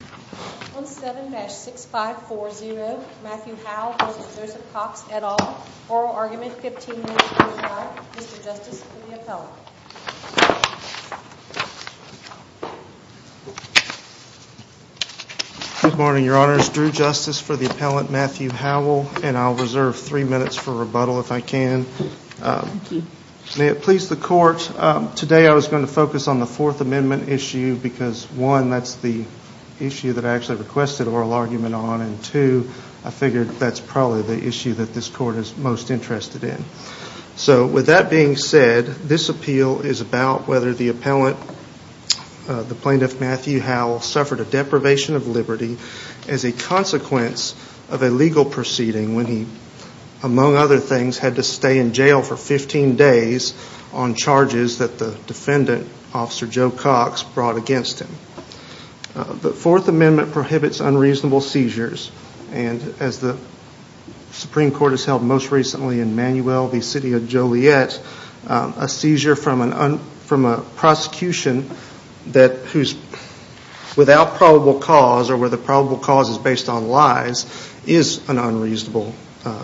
Good morning, Your Honors. Drew Justice for the Appellant, Matthew Howell, and I'll reserve three minutes for rebuttal if I can. May it please the Court, today I was going to focus on the Fourth Amendment issue because, one, that's the issue that I actually requested oral argument on, and two, I figured that's probably the issue that this Court is most interested in. So, with that being said, this appeal is about whether the Appellant, the Plaintiff Matthew Howell, suffered a deprivation of liberty as a consequence of a legal proceeding when he, among other things, had to stay in jail for 15 days on charges that the defendant Officer Joe Cox brought against him. The Fourth Amendment prohibits unreasonable seizures, and as the Supreme Court has held most recently in Manuel v. City of Joliet, a seizure from a prosecution that, without probable cause, or where the probable cause is based on lies, is an unreasonable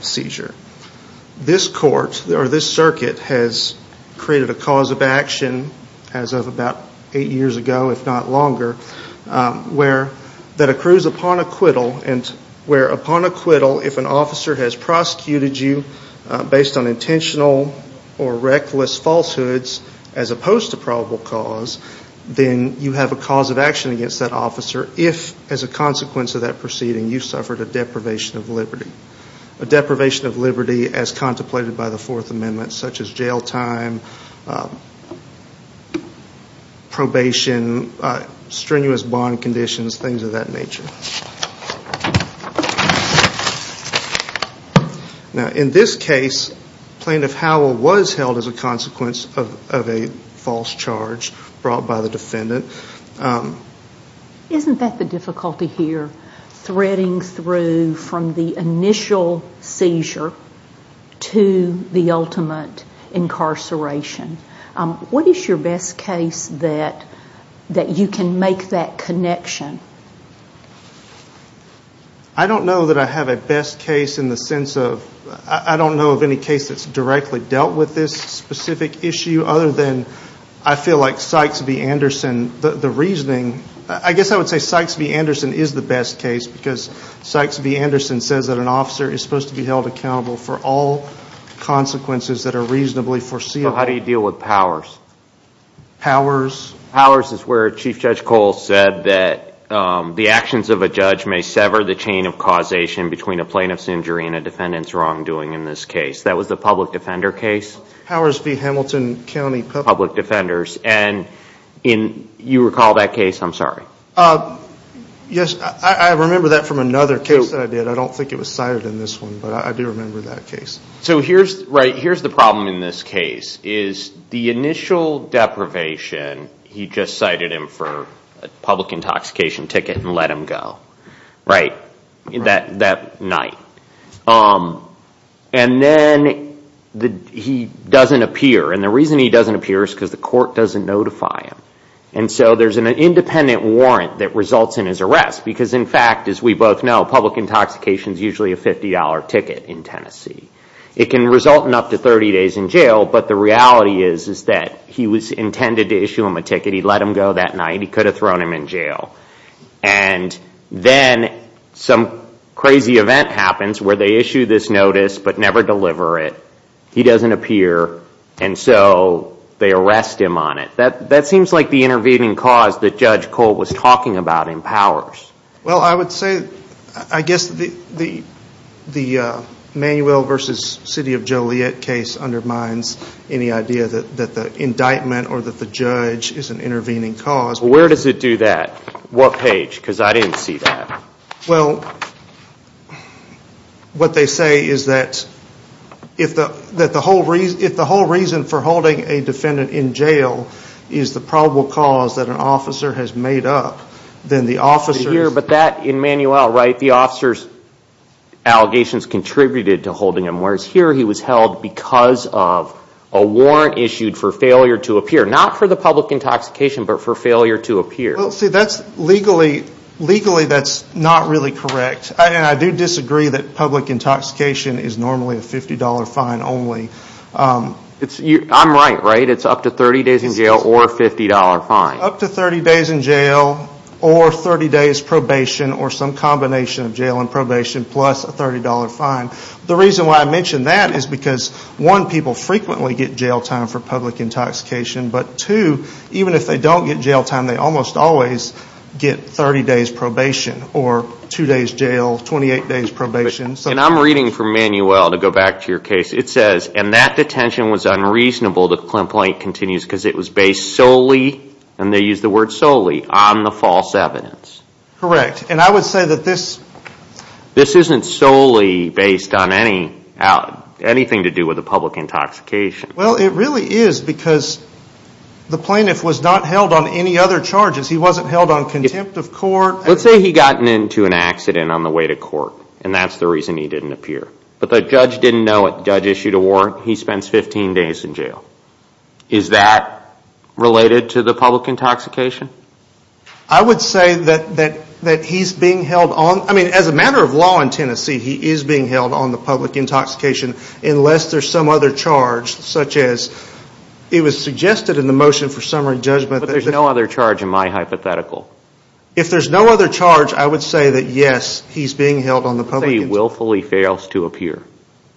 seizure. This Court, or this circuit, has created a cause of action as of about eight years ago, if not longer, where that accrues upon acquittal, and where upon acquittal, if an officer has prosecuted you based on intentional or reckless falsehoods as opposed to probable cause, then you have a cause of action against that officer if, as a consequence of that proceeding, you suffered a deprivation of liberty. A deprivation of liberty, probation, strenuous bond conditions, things of that nature. Now, in this case, Plaintiff Howell was held as a consequence of a false charge brought by the defendant. Isn't that the difficulty here? Threading through from the initial seizure to the ultimate incarceration. What is your best case that you can make that connection? I don't know that I have a best case in the sense of, I don't know of any case that's directly dealt with this specific issue, other than I feel like Sykes v. Anderson, the reasoning, I guess I would say Sykes v. Anderson is the best case, because Sykes v. Anderson says that an officer is supposed to be held accountable for all consequences that are reasonably foreseeable. How do you deal with Powers? Powers is where Chief Judge Cole said that the actions of a judge may sever the chain of causation between a plaintiff's injury and a defendant's wrongdoing in this case. That was the public defender case? Powers v. Hamilton County Public Defenders. You recall that case? I'm sorry. Yes, I remember that from another case that I did. I don't think it was cited in this one, but I do remember that case. Here's the problem in this case. The initial deprivation, he just cited him for a public intoxication ticket and let him go. That night. Then he doesn't appear. The reason he doesn't appear is because the court doesn't notify him. There's an independent warrant that results in his arrest. In fact, as we both know, public intoxication is usually a $50 ticket in Tennessee. It can result in up to 30 days in jail, but the reality is that he was intended to issue him a ticket. He let him go that night. He could have thrown him in jail. Then some crazy event happens where they issue this notice, but never deliver it. He doesn't appear. So they arrest him on it. That seems like the intervening cause that Judge Cole was talking about empowers. I guess the Manuel v. City of Joliet case undermines any idea that the indictment or that the judge is an intervening cause. Where does it do that? What page? Because I didn't see that. What they say is that if the whole reason for holding a defendant in jail is the probable cause that an officer has made up, then the officer's allegations contributed to holding him. Whereas here he was held because of a warrant issued for failure to appear. Not for the public intoxication, but for failure to appear. Legally that's not really correct. I do disagree that public intoxication is normally a $50 fine only. I'm right, right? It's up to 30 days in jail or a $50 fine. Up to 30 days in jail or 30 days probation or some combination of jail and probation plus a $30 fine. The reason why I mention that is because 1. People frequently get jail time for public intoxication, but 2. Even if they don't get jail time, they almost always get 30 days probation or 2 days jail, 28 days probation. I'm reading from Manuel to go back to your case. It says, and that detention was unreasonable to Clint Blank continues because it was based solely, and they use the word solely, on the false evidence. Correct. I would say that this... This isn't solely based on anything to do with the public intoxication. It really is because the plaintiff was not held on any other charges. He wasn't held on contempt of court. Let's say he got into an accident on the way to court and that's the reason he didn't appear. But the judge didn't know it. The judge issued a warrant. He spends 15 days in jail. Is that related to the public intoxication? I would say that he's being held on... I mean, as a matter of law in Tennessee, he is being held on the public intoxication unless there's some other charge such as it was suggested in the motion for summary judgment. But there's no other charge in my hypothetical. If there's no other charge, I would say that yes, he's being held on the public... Let's say he willfully fails to appear.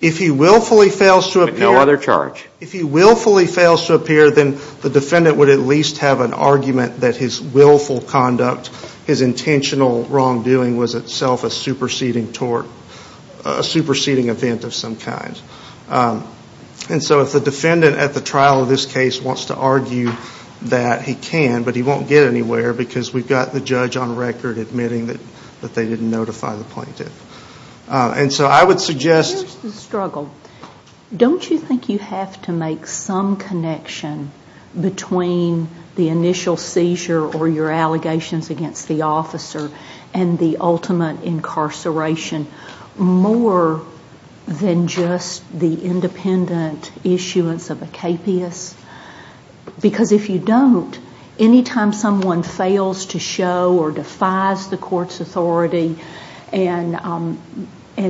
If he willfully fails to appear... But no other charge. If he willfully fails to appear, then the defendant would at least have an argument that his willful conduct, his intentional wrongdoing was itself a superseding tort, a superseding event of some kind. And so if the defendant at the trial of this case wants to argue that he can, but he won't get anywhere because we've got the judge on record admitting that they didn't notify the plaintiff. And so I would suggest... Here's the struggle. Don't you think you have to make some connection between the initial seizure or your allegations against the officer and the ultimate incarceration more than just the independent issuance of a KPS? Because if you don't, any time someone fails to show or defies the court's authority and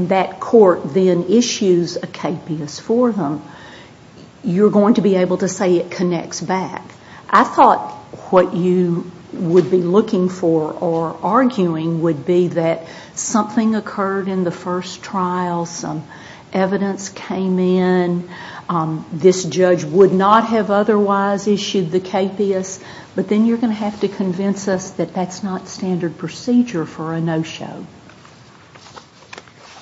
that court then issues a KPS for them, you're going to be able to say it connects back. I thought what you would be looking for or arguing would be that something occurred in the first trial, some evidence came in, this judge would not have otherwise issued the KPS, but then you're going to have to convince us that that's not standard procedure for a no-show.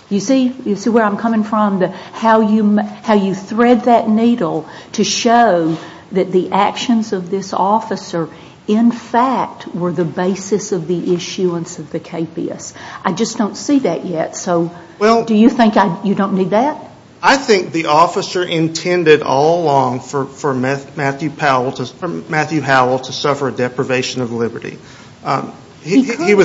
You see where I'm coming from, how you thread that needle to show that the actions of this officer in fact were the basis of the issuance of the KPS. I just don't see that yet. Do you think you don't need that? I think the officer intended all along for Matthew Howell to suffer a deprivation of liberty. The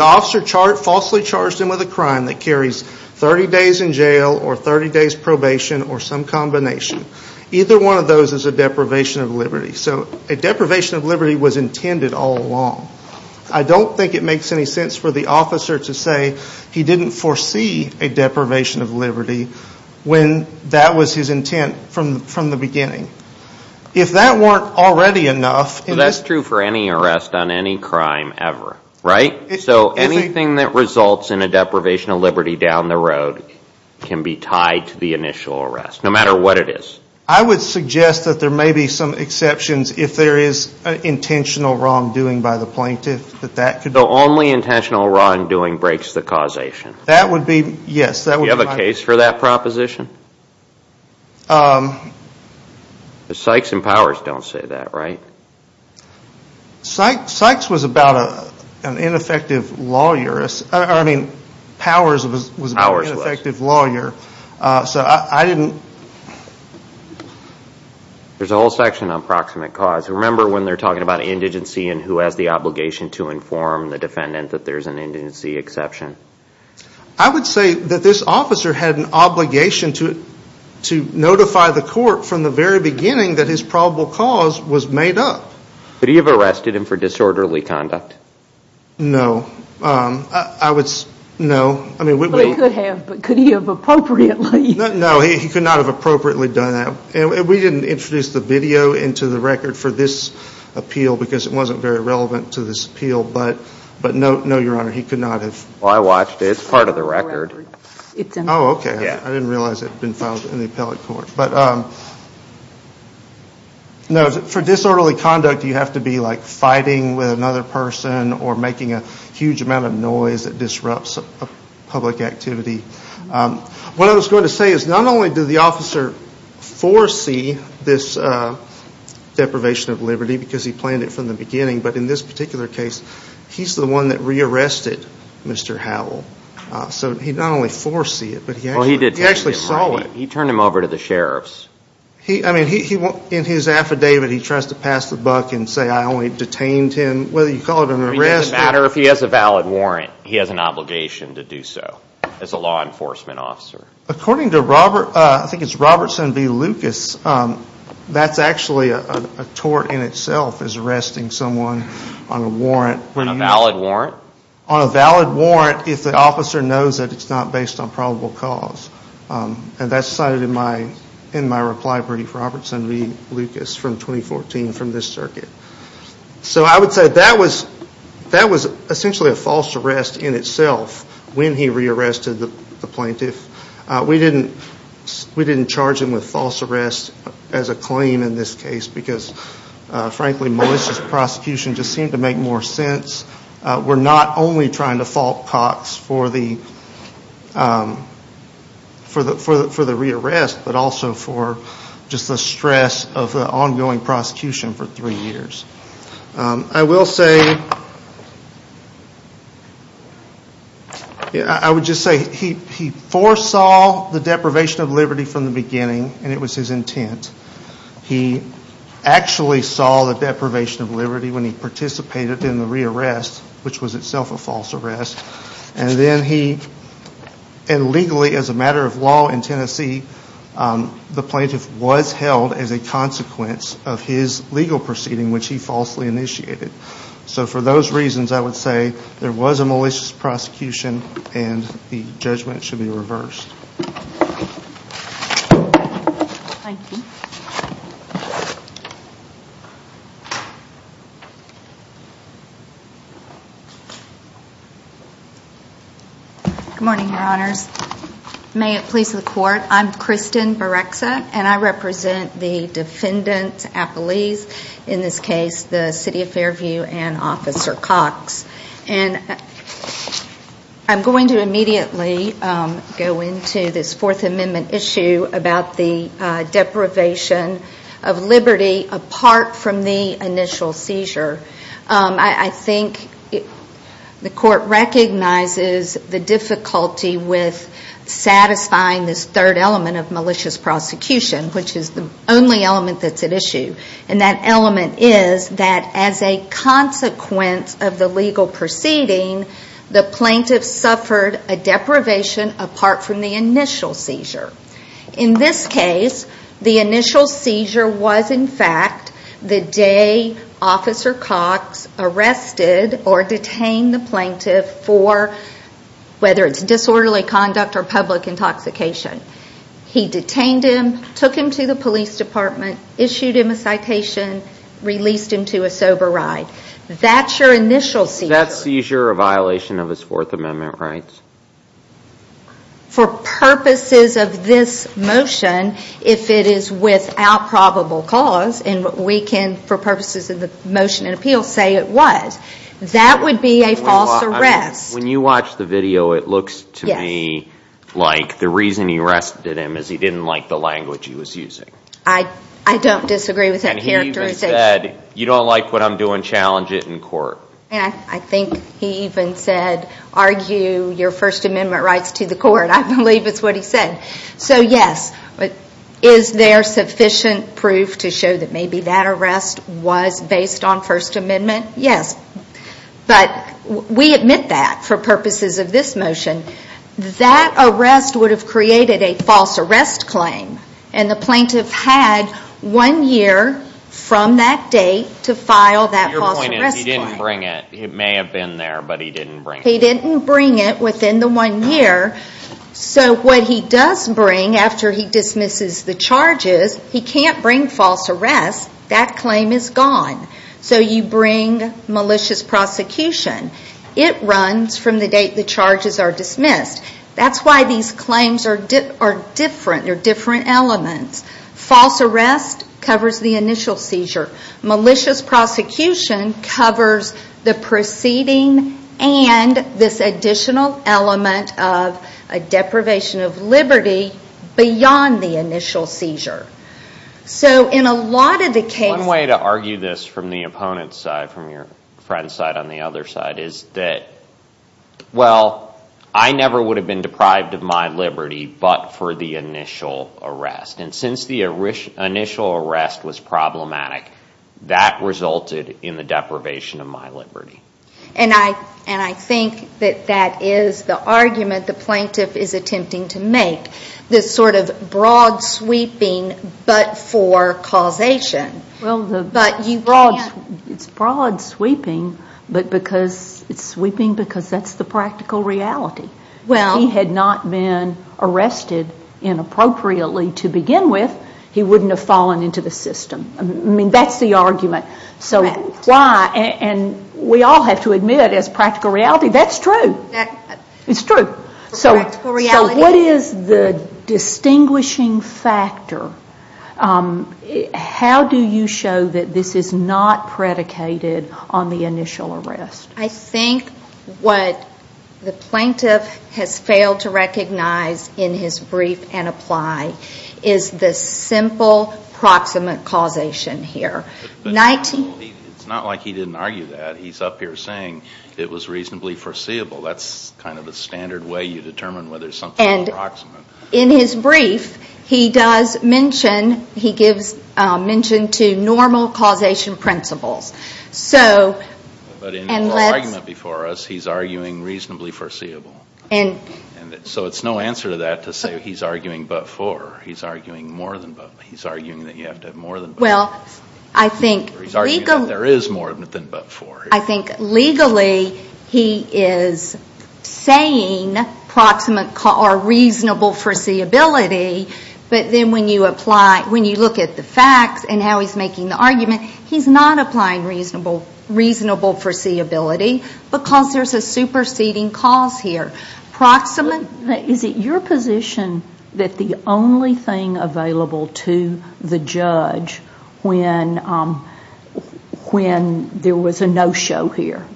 officer falsely charged him with a crime that carries 30 days in jail or 30 days probation or some combination. Either one of those is a deprivation of liberty. A deprivation of liberty was intended all along. I don't think it makes any sense for the officer to say he didn't foresee a deprivation of liberty when that was his intent from the beginning. If that weren't already enough... That's true for any arrest on any crime ever, right? So anything that results in a deprivation of liberty down the road can be tied to the initial arrest, no matter what it is. I would suggest that there may be some exceptions if there is an intentional wrong doing by the plaintiff. So only intentional wrong doing breaks the causation? That would be, yes. Do you have a case for that proposition? Sykes and Powers don't say that, right? Sykes was about an ineffective lawyer. Powers was an ineffective lawyer. There's a whole section on proximate cause. Remember when they're talking about indigency and who has the obligation to inform the defendant that there's an indigency exception? I would say that this officer had an obligation to notify the court from the very beginning that his probable cause was made up. Could he have arrested him for disorderly conduct? No. I would say no. He could have, but could he have appropriately? No, he could not have appropriately done that. We didn't introduce the video into the record for this appeal because it wasn't very relevant to this appeal, but no, your honor, he could not have. Well, I watched it. It's part of the record. Oh, okay. I didn't realize it had been filed in the appellate court. No, for disorderly conduct, you have to be fighting with another person or making a huge amount of noise that disrupts public activity. What I was going to say is not only did the officer foresee this deprivation of liberty because he planned it from the beginning, but in this particular case, he's the one that re-arrested Mr. Howell. So he not only foresees it, but he actually saw it. He turned him over to the sheriffs. I mean, in his affidavit, he tries to pass the buck and say, I only detained him. Whether you call it an arrest or... According to Robert, I think it's Robertson v. Lucas, that's actually a tort in itself, is arresting someone on a warrant. On a valid warrant? On a valid warrant if the officer knows that it's not based on probable cause. And that's cited in my reply brief, Robertson v. Lucas from 2014 from this circuit. So I would say that was essentially a false arrest in itself when he re-arrested the plaintiff. We didn't charge him with false arrest as a claim in this case because, frankly, Melissa's prosecution just seemed to make more sense. We're not only trying to fault Cox for the re-arrest, but also for just the stress of the ongoing prosecution for three years. I will say... I would just say he foresaw the deprivation of liberty from the beginning, and it was his intent. He actually saw the deprivation of liberty when he participated in the re-arrest, which was itself a false arrest. And legally, as a matter of law in Tennessee, the plaintiff was held as a consequence of his legal proceeding, which he falsely initiated. So for those reasons, I would say there was a malicious prosecution, and the judgment should be reversed. Thank you. Good morning, Your Honors. May it please the Court, I'm Kristen Barrexa, and I represent the defendants' appellees, in this case the City of Fairview and Officer Cox. And I'm going to immediately go into this Fourth Amendment issue about the deprivation of liberty apart from the initial seizure. I think the Court recognizes the difficulty with satisfying this third element of malicious prosecution, which is the only element that's at issue. And that element is that as a consequence of the legal proceeding, the plaintiff suffered a deprivation apart from the initial seizure. In this case, the initial seizure was in fact the day Officer Cox arrested or detained the plaintiff for, whether it's disorderly conduct or public intoxication. He detained him, took him to the police department, issued him a citation, released him to a sober ride. That's your initial seizure. Is that seizure a violation of his Fourth Amendment rights? For purposes of this motion, if it is without probable cause, and we can, for purposes of the motion in appeal, say it was, that would be a false arrest. When you watch the video, it looks to me like the reason he arrested him is he didn't like the language he was using. I don't disagree with that characterization. And he even said, you don't like what I'm doing, challenge it in court. I think he even said, argue your First Amendment rights to the court. I believe it's what he said. So yes, is there sufficient proof to show that maybe that arrest was based on First Amendment? Yes. But we admit that for purposes of this motion. That arrest would have created a false arrest claim. And the plaintiff had one year from that date to file that false arrest claim. But your point is he didn't bring it. It may have been there, but he didn't bring it. He didn't bring it within the one year. So what he does bring after he dismisses the charges, he can't bring false arrest. That claim is gone. So you bring malicious prosecution. It runs from the date the charges are dismissed. That's why these claims are different. They're different elements. False arrest covers the initial seizure. Malicious prosecution covers the preceding and this additional element of a deprivation of liberty beyond the initial seizure. So in a lot of the cases... One way to argue this from the opponent's side, from your friend's side on the other side, is that, well, I never would have been deprived of my liberty but for the initial arrest. And since the initial arrest was problematic, that resulted in the deprivation of my liberty. And I think that that is the argument the plaintiff is attempting to make, this sort of broad sweeping but for causation. Well, it's broad sweeping, but it's sweeping because that's the practical reality. If he had not been arrested inappropriately to begin with, he wouldn't have fallen into the system. I mean, that's the argument. And we all have to admit as practical reality, that's true. It's true. So what is the distinguishing factor? How do you show that this is not predicated on the initial arrest? I think what the plaintiff has failed to recognize in his brief and apply is the simple proximate causation here. It's not like he didn't argue that. He's up here saying it was reasonably foreseeable. That's kind of the standard way you determine whether something is proximate. In his brief, he does mention, he gives mention to normal causation principles. But in the argument before us, he's arguing reasonably foreseeable. So it's no answer to that to say he's arguing but for. He's arguing more than but. He's arguing that you have to have more than but. He's arguing that there is more than but for. I think legally he is saying proximate or reasonable foreseeability, but then when you apply, when you look at the facts and how he's making the argument, he's not applying reasonable foreseeability because there's a superseding cause here. Proximate. Is it your position that the only thing available to the judge when there was a no-show here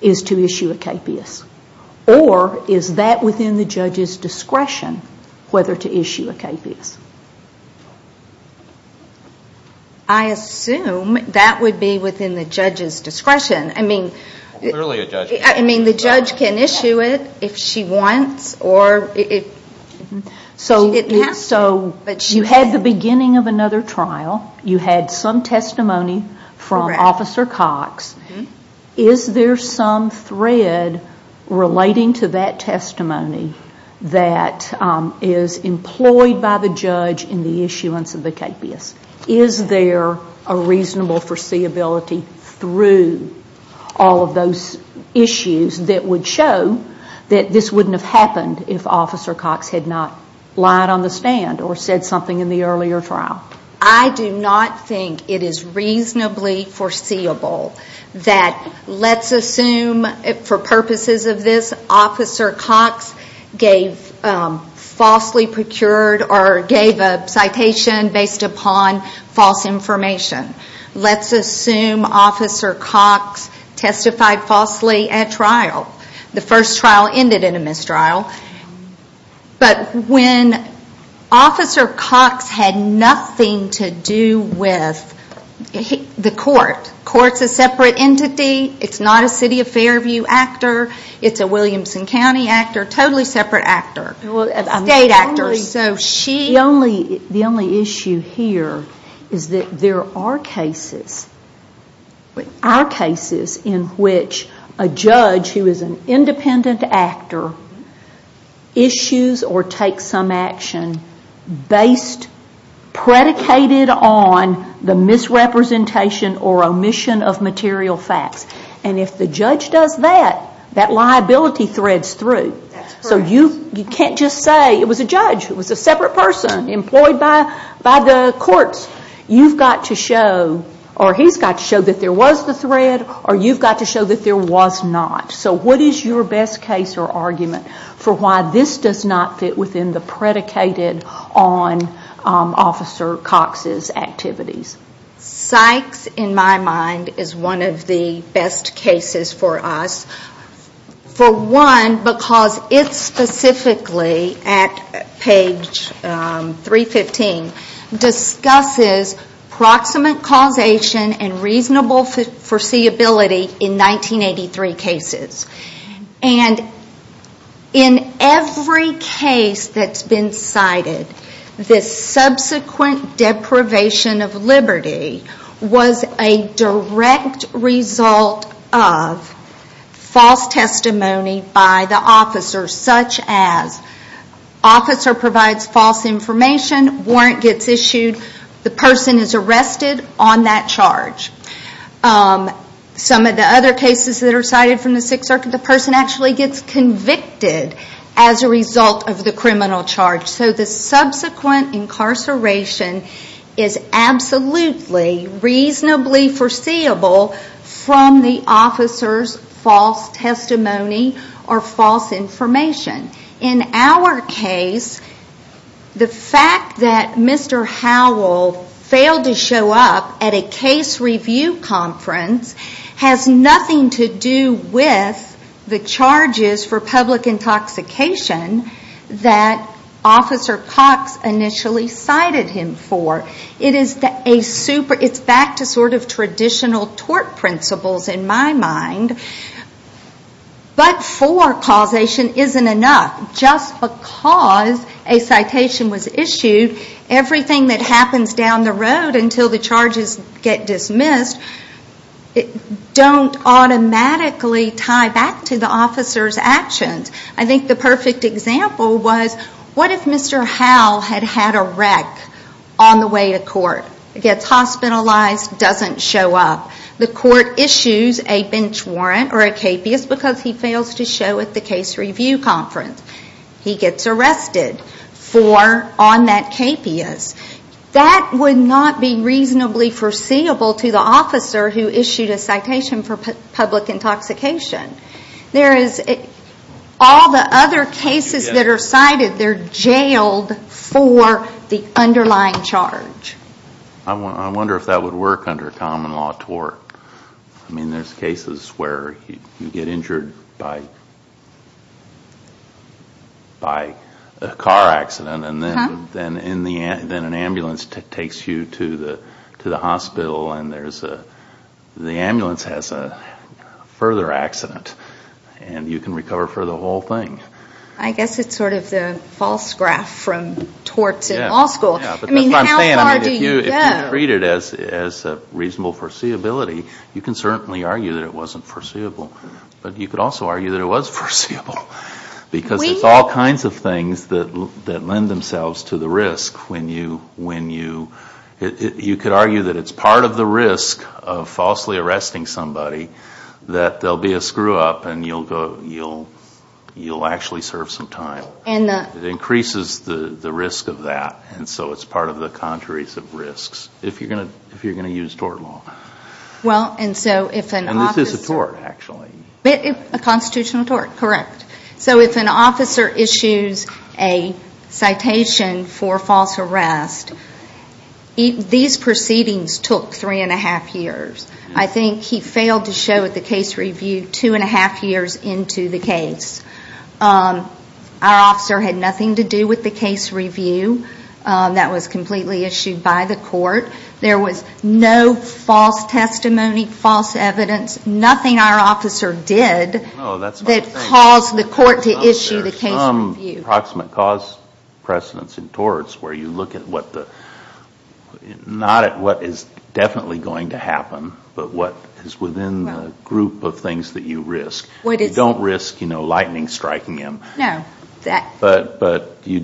is to issue a KPS? Or is that within the judge's discretion whether to issue a KPS? I assume that would be within the judge's discretion. I mean, the judge can issue it if she wants. So you had the beginning of another trial. You had some testimony from Officer Cox. Is there some thread relating to that testimony that is employed by the judge in the issuance of the KPS? Is there a reasonable foreseeability through all of those issues that would show that this wouldn't have happened if Officer Cox had not lied on the stand or said something in the earlier trial? I do not think it is reasonably foreseeable that let's assume, for purposes of this, Officer Cox gave falsely procured or gave a citation based upon false information. Let's assume Officer Cox testified falsely at trial. The first trial ended in a mistrial. But when Officer Cox had nothing to do with the court. The court is a separate entity. It is not a City of Fairview actor. It is a Williamson County actor. Totally separate actors. State actors. The only issue here is that there are cases in which a judge who is an independent actor issues or takes some action predicated on the misrepresentation or omission of material facts. And if the judge does that, that liability threads through. So you can't just say it was a judge. It was a separate person employed by the courts. You've got to show or he's got to show that there was the thread or you've got to show that there was not. So what is your best case or argument for why this does not fit within the predicated on Officer Cox's activities? Sykes, in my mind, is one of the best cases for us. For one, because it specifically, at page 315, discusses proximate causation and reasonable foreseeability in 1983 cases. And in every case that's been cited, this subsequent deprivation of liberty was a direct result of false testimony by the officer. Such as, officer provides false information, warrant gets issued, the person is arrested on that charge. Some of the other cases that are cited from the Sixth Circuit, the person actually gets convicted as a result of the criminal charge. So the subsequent incarceration is absolutely reasonably foreseeable from the officer's false testimony or false information. In our case, the fact that Mr. Howell failed to show up at a case review conference has nothing to do with the charges for public intoxication that Officer Cox initially cited him for. It's back to traditional tort principles in my mind. But for causation isn't enough. Just because a citation was issued, everything that happens down the road until the charges get dismissed, don't automatically tie back to the officer's actions. I think the perfect example was, what if Mr. Howell had had a wreck on the way to court? Gets hospitalized, doesn't show up. The court issues a bench warrant or a capias because he fails to show at the case review conference. He gets arrested on that capias. That would not be reasonably foreseeable to the officer who issued a citation for public intoxication. All the other cases that are cited, they're jailed for the underlying charge. I wonder if that would work under common law tort. I mean, there's cases where you get injured by a car accident, and then an ambulance takes you to the hospital and the ambulance has a further accident. And you can recover for the whole thing. I guess it's sort of the false graph from torts in law school. I mean, how far do you go? If you treat it as reasonable foreseeability, you can certainly argue that it wasn't foreseeable. But you could also argue that it was foreseeable. Because it's all kinds of things that lend themselves to the risk. You could argue that it's part of the risk of falsely arresting somebody, that there'll be a screw-up and you'll actually serve some time. It increases the risk of that, and so it's part of the contraries of risks if you're going to use tort law. And this is a tort, actually. A constitutional tort, correct. So if an officer issues a citation for false arrest, these proceedings took three-and-a-half years. I think he failed to show at the case review two-and-a-half years into the case. Our officer had nothing to do with the case review. That was completely issued by the court. There was no false testimony, false evidence. Nothing our officer did that caused the court to issue the case review. There's some approximate cause precedence in torts where you look at what the ñ not at what is definitely going to happen, but what is within the group of things that you risk. You don't risk, you know, lightning striking him. No. But you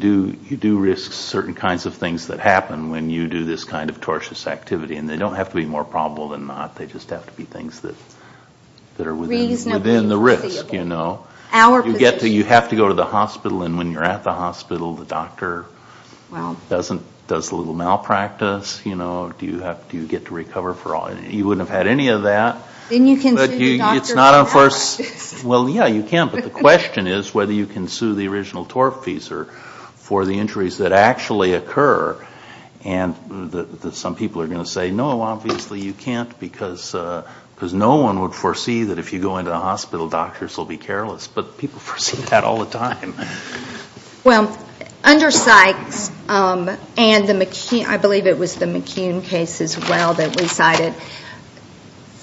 do risk certain kinds of things that happen when you do this kind of tortious activity. And they don't have to be more probable than not. They just have to be things that are within the risk, you know. You have to go to the hospital. And when you're at the hospital, the doctor does a little malpractice, you know. Do you get to recover for all ñ you wouldn't have had any of that. But it's not a first ñ well, yeah, you can. But the question is whether you can sue the original tortfeasor for the injuries that actually occur. And some people are going to say, no, obviously you can't, because no one would foresee that if you go into the hospital, doctors will be careless. But people foresee that all the time. Well, under Sykes and the McKeown ñ I believe it was the McKeown case as well that we cited,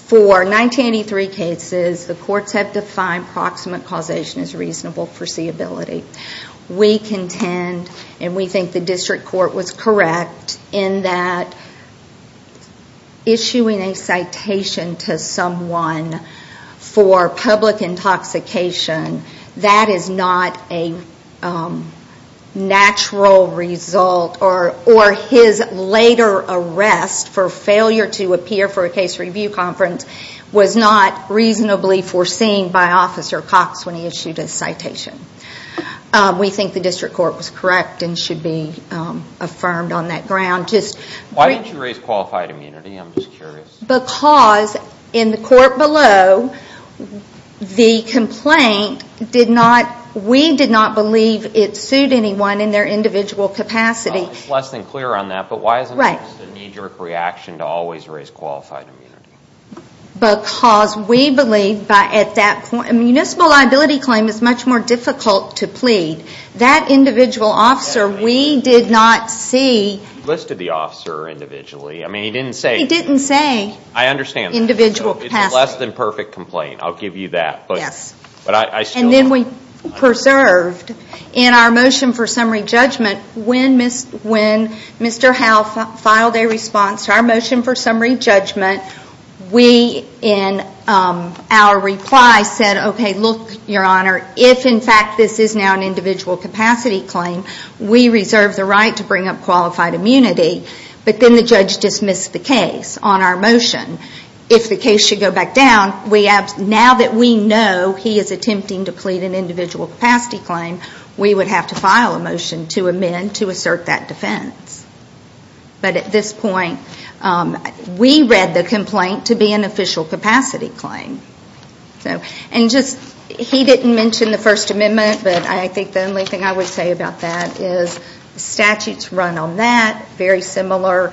for 1983 cases, the courts have defined proximate causation as reasonable foreseeability. We contend, and we think the district court was correct, in that issuing a citation to someone for public intoxication, that is not a natural result, or his later arrest for failure to appear for a case review conference was not reasonably foreseen by Officer Cox when he issued his citation. We think the district court was correct and should be affirmed on that ground. Why didn't you raise qualified immunity? I'm just curious. Because in the court below, the complaint did not ñ we did not believe it sued anyone in their individual capacity. It's less than clear on that, but why isn't it just a knee-jerk reaction to always raise qualified immunity? Because we believe, at that point, a municipal liability claim is much more difficult to plead. That individual officer, we did not see. You listed the officer individually. He didn't say individual capacity. It's a less than perfect complaint, I'll give you that. And then we preserved, in our motion for summary judgment, when Mr. Howell filed a response to our motion for summary judgment, we, in our reply, said, ìOkay, look, Your Honor, if, in fact, this is now an individual capacity claim, we reserve the right to bring up qualified immunity.î But then the judge dismissed the case on our motion. If the case should go back down, now that we know he is attempting to plead an individual capacity claim, we would have to file a motion to amend to assert that defense. But at this point, we read the complaint to be an official capacity claim. And just, he didn't mention the First Amendment, but I think the only thing I would say about that is the statutes run on that, very similar.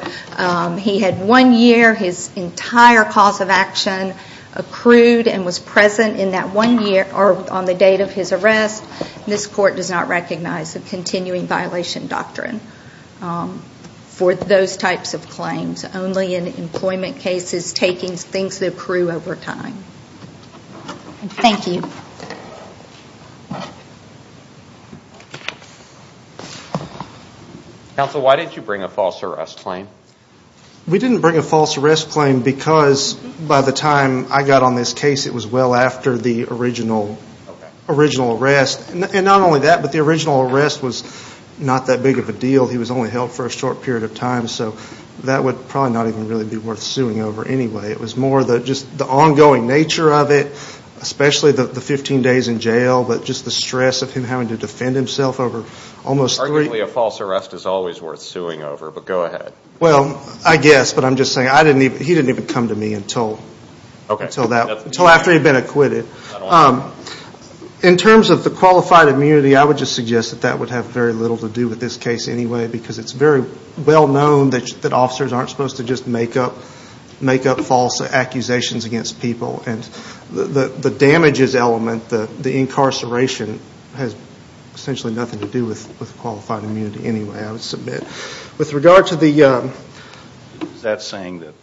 He had one year, his entire cause of action accrued and was present in that one year, or on the date of his arrest. This court does not recognize the continuing violation doctrine for those types of claims. Only in employment cases, taking things that accrue over time. Thank you. Thank you. Counsel, why did you bring a false arrest claim? We didn't bring a false arrest claim because, by the time I got on this case, it was well after the original arrest. And not only that, but the original arrest was not that big of a deal. He was only held for a short period of time, so that would probably not even really be worth suing over anyway. It was more just the ongoing nature of it, especially the 15 days in jail, but just the stress of him having to defend himself over almost three years. Arguably, a false arrest is always worth suing over, but go ahead. Well, I guess, but I'm just saying, he didn't even come to me until after he'd been acquitted. In terms of the qualified immunity, I would just suggest that that would have very little to do with this case anyway, because it's very well known that officers aren't supposed to just make up false accusations against people. And the damages element, the incarceration, has essentially nothing to do with qualified immunity anyway, I would submit. With regard to the— Is that saying that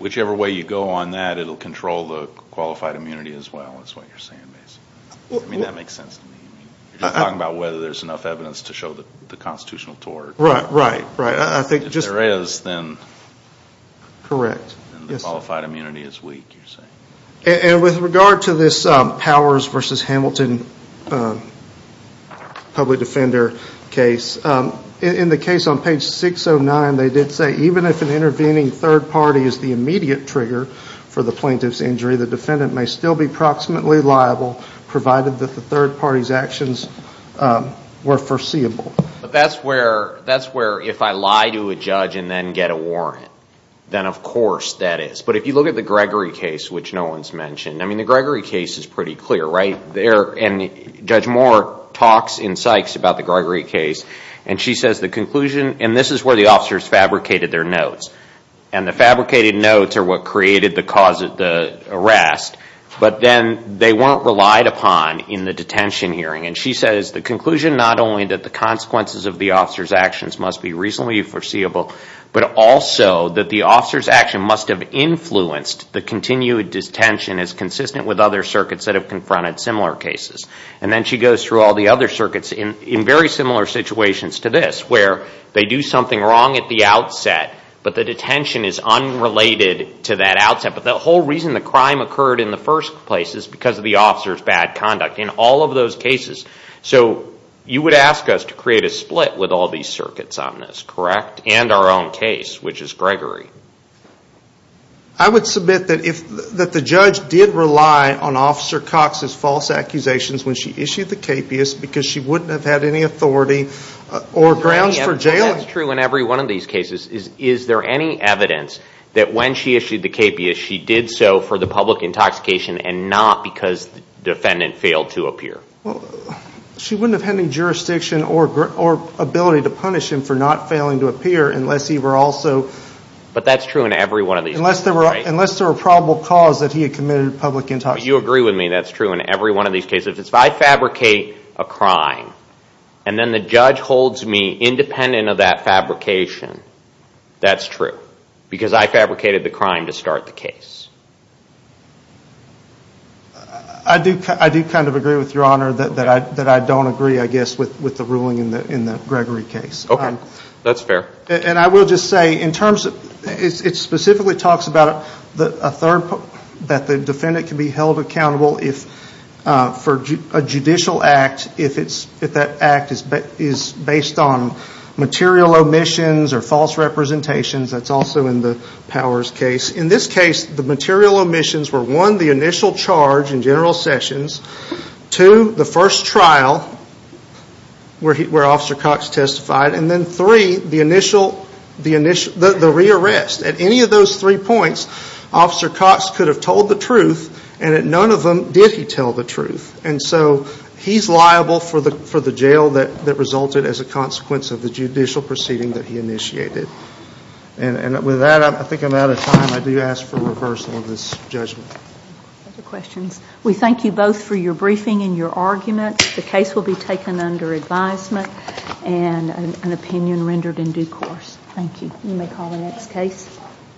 whichever way you go on that, it'll control the qualified immunity as well, is what you're saying, basically? I mean, that makes sense to me. You're just talking about whether there's enough evidence to show the constitutional tort. Right, right, right. I think just— If there is, then— Correct. Then the qualified immunity is weak, you're saying. And with regard to this Powers v. Hamilton public defender case, in the case on page 609, they did say, even if an intervening third party is the immediate trigger for the plaintiff's injury, the defendant may still be proximately liable, provided that the third party's actions were foreseeable. But that's where, if I lie to a judge and then get a warrant, then of course that is. But if you look at the Gregory case, which no one's mentioned, I mean, the Gregory case is pretty clear, right? And Judge Moore talks in Sykes about the Gregory case, and she says the conclusion— And this is where the officers fabricated their notes. And the fabricated notes are what created the arrest. But then they weren't relied upon in the detention hearing. And she says the conclusion, not only that the consequences of the officers' actions must be reasonably foreseeable, but also that the officers' action must have influenced the continued detention as consistent with other circuits that have confronted similar cases. And then she goes through all the other circuits in very similar situations to this, where they do something wrong at the outset, but the detention is unrelated to that outset. But the whole reason the crime occurred in the first place is because of the officers' bad conduct in all of those cases. So you would ask us to create a split with all these circuits on this, correct? And our own case, which is Gregory. I would submit that the judge did rely on Officer Cox's false accusations when she issued the KPIS because she wouldn't have had any authority or grounds for jailing. That's true in every one of these cases. Is there any evidence that when she issued the KPIS, she did so for the public intoxication and not because the defendant failed to appear? Well, she wouldn't have had any jurisdiction or ability to punish him for not failing to appear unless he were also— But that's true in every one of these cases, right? Unless there were probable cause that he had committed public intoxication. You agree with me that's true in every one of these cases. If I fabricate a crime and then the judge holds me independent of that fabrication, that's true, because I fabricated the crime to start the case. I do kind of agree with Your Honor that I don't agree, I guess, with the ruling in the Gregory case. Okay. That's fair. And I will just say, it specifically talks about that the defendant can be held accountable for a judicial act if that act is based on material omissions or false representations. That's also in the Powers case. In this case, the material omissions were, one, the initial charge in General Sessions, two, the first trial where Officer Cox testified, and then three, the re-arrest. At any of those three points, Officer Cox could have told the truth, and at none of them did he tell the truth. And so he's liable for the jail that resulted as a consequence of the judicial proceeding that he initiated. And with that, I think I'm out of time. I do ask for reversal of this judgment. Other questions? We thank you both for your briefing and your arguments. The case will be taken under advisement and an opinion rendered in due course. Thank you. You may call the next case.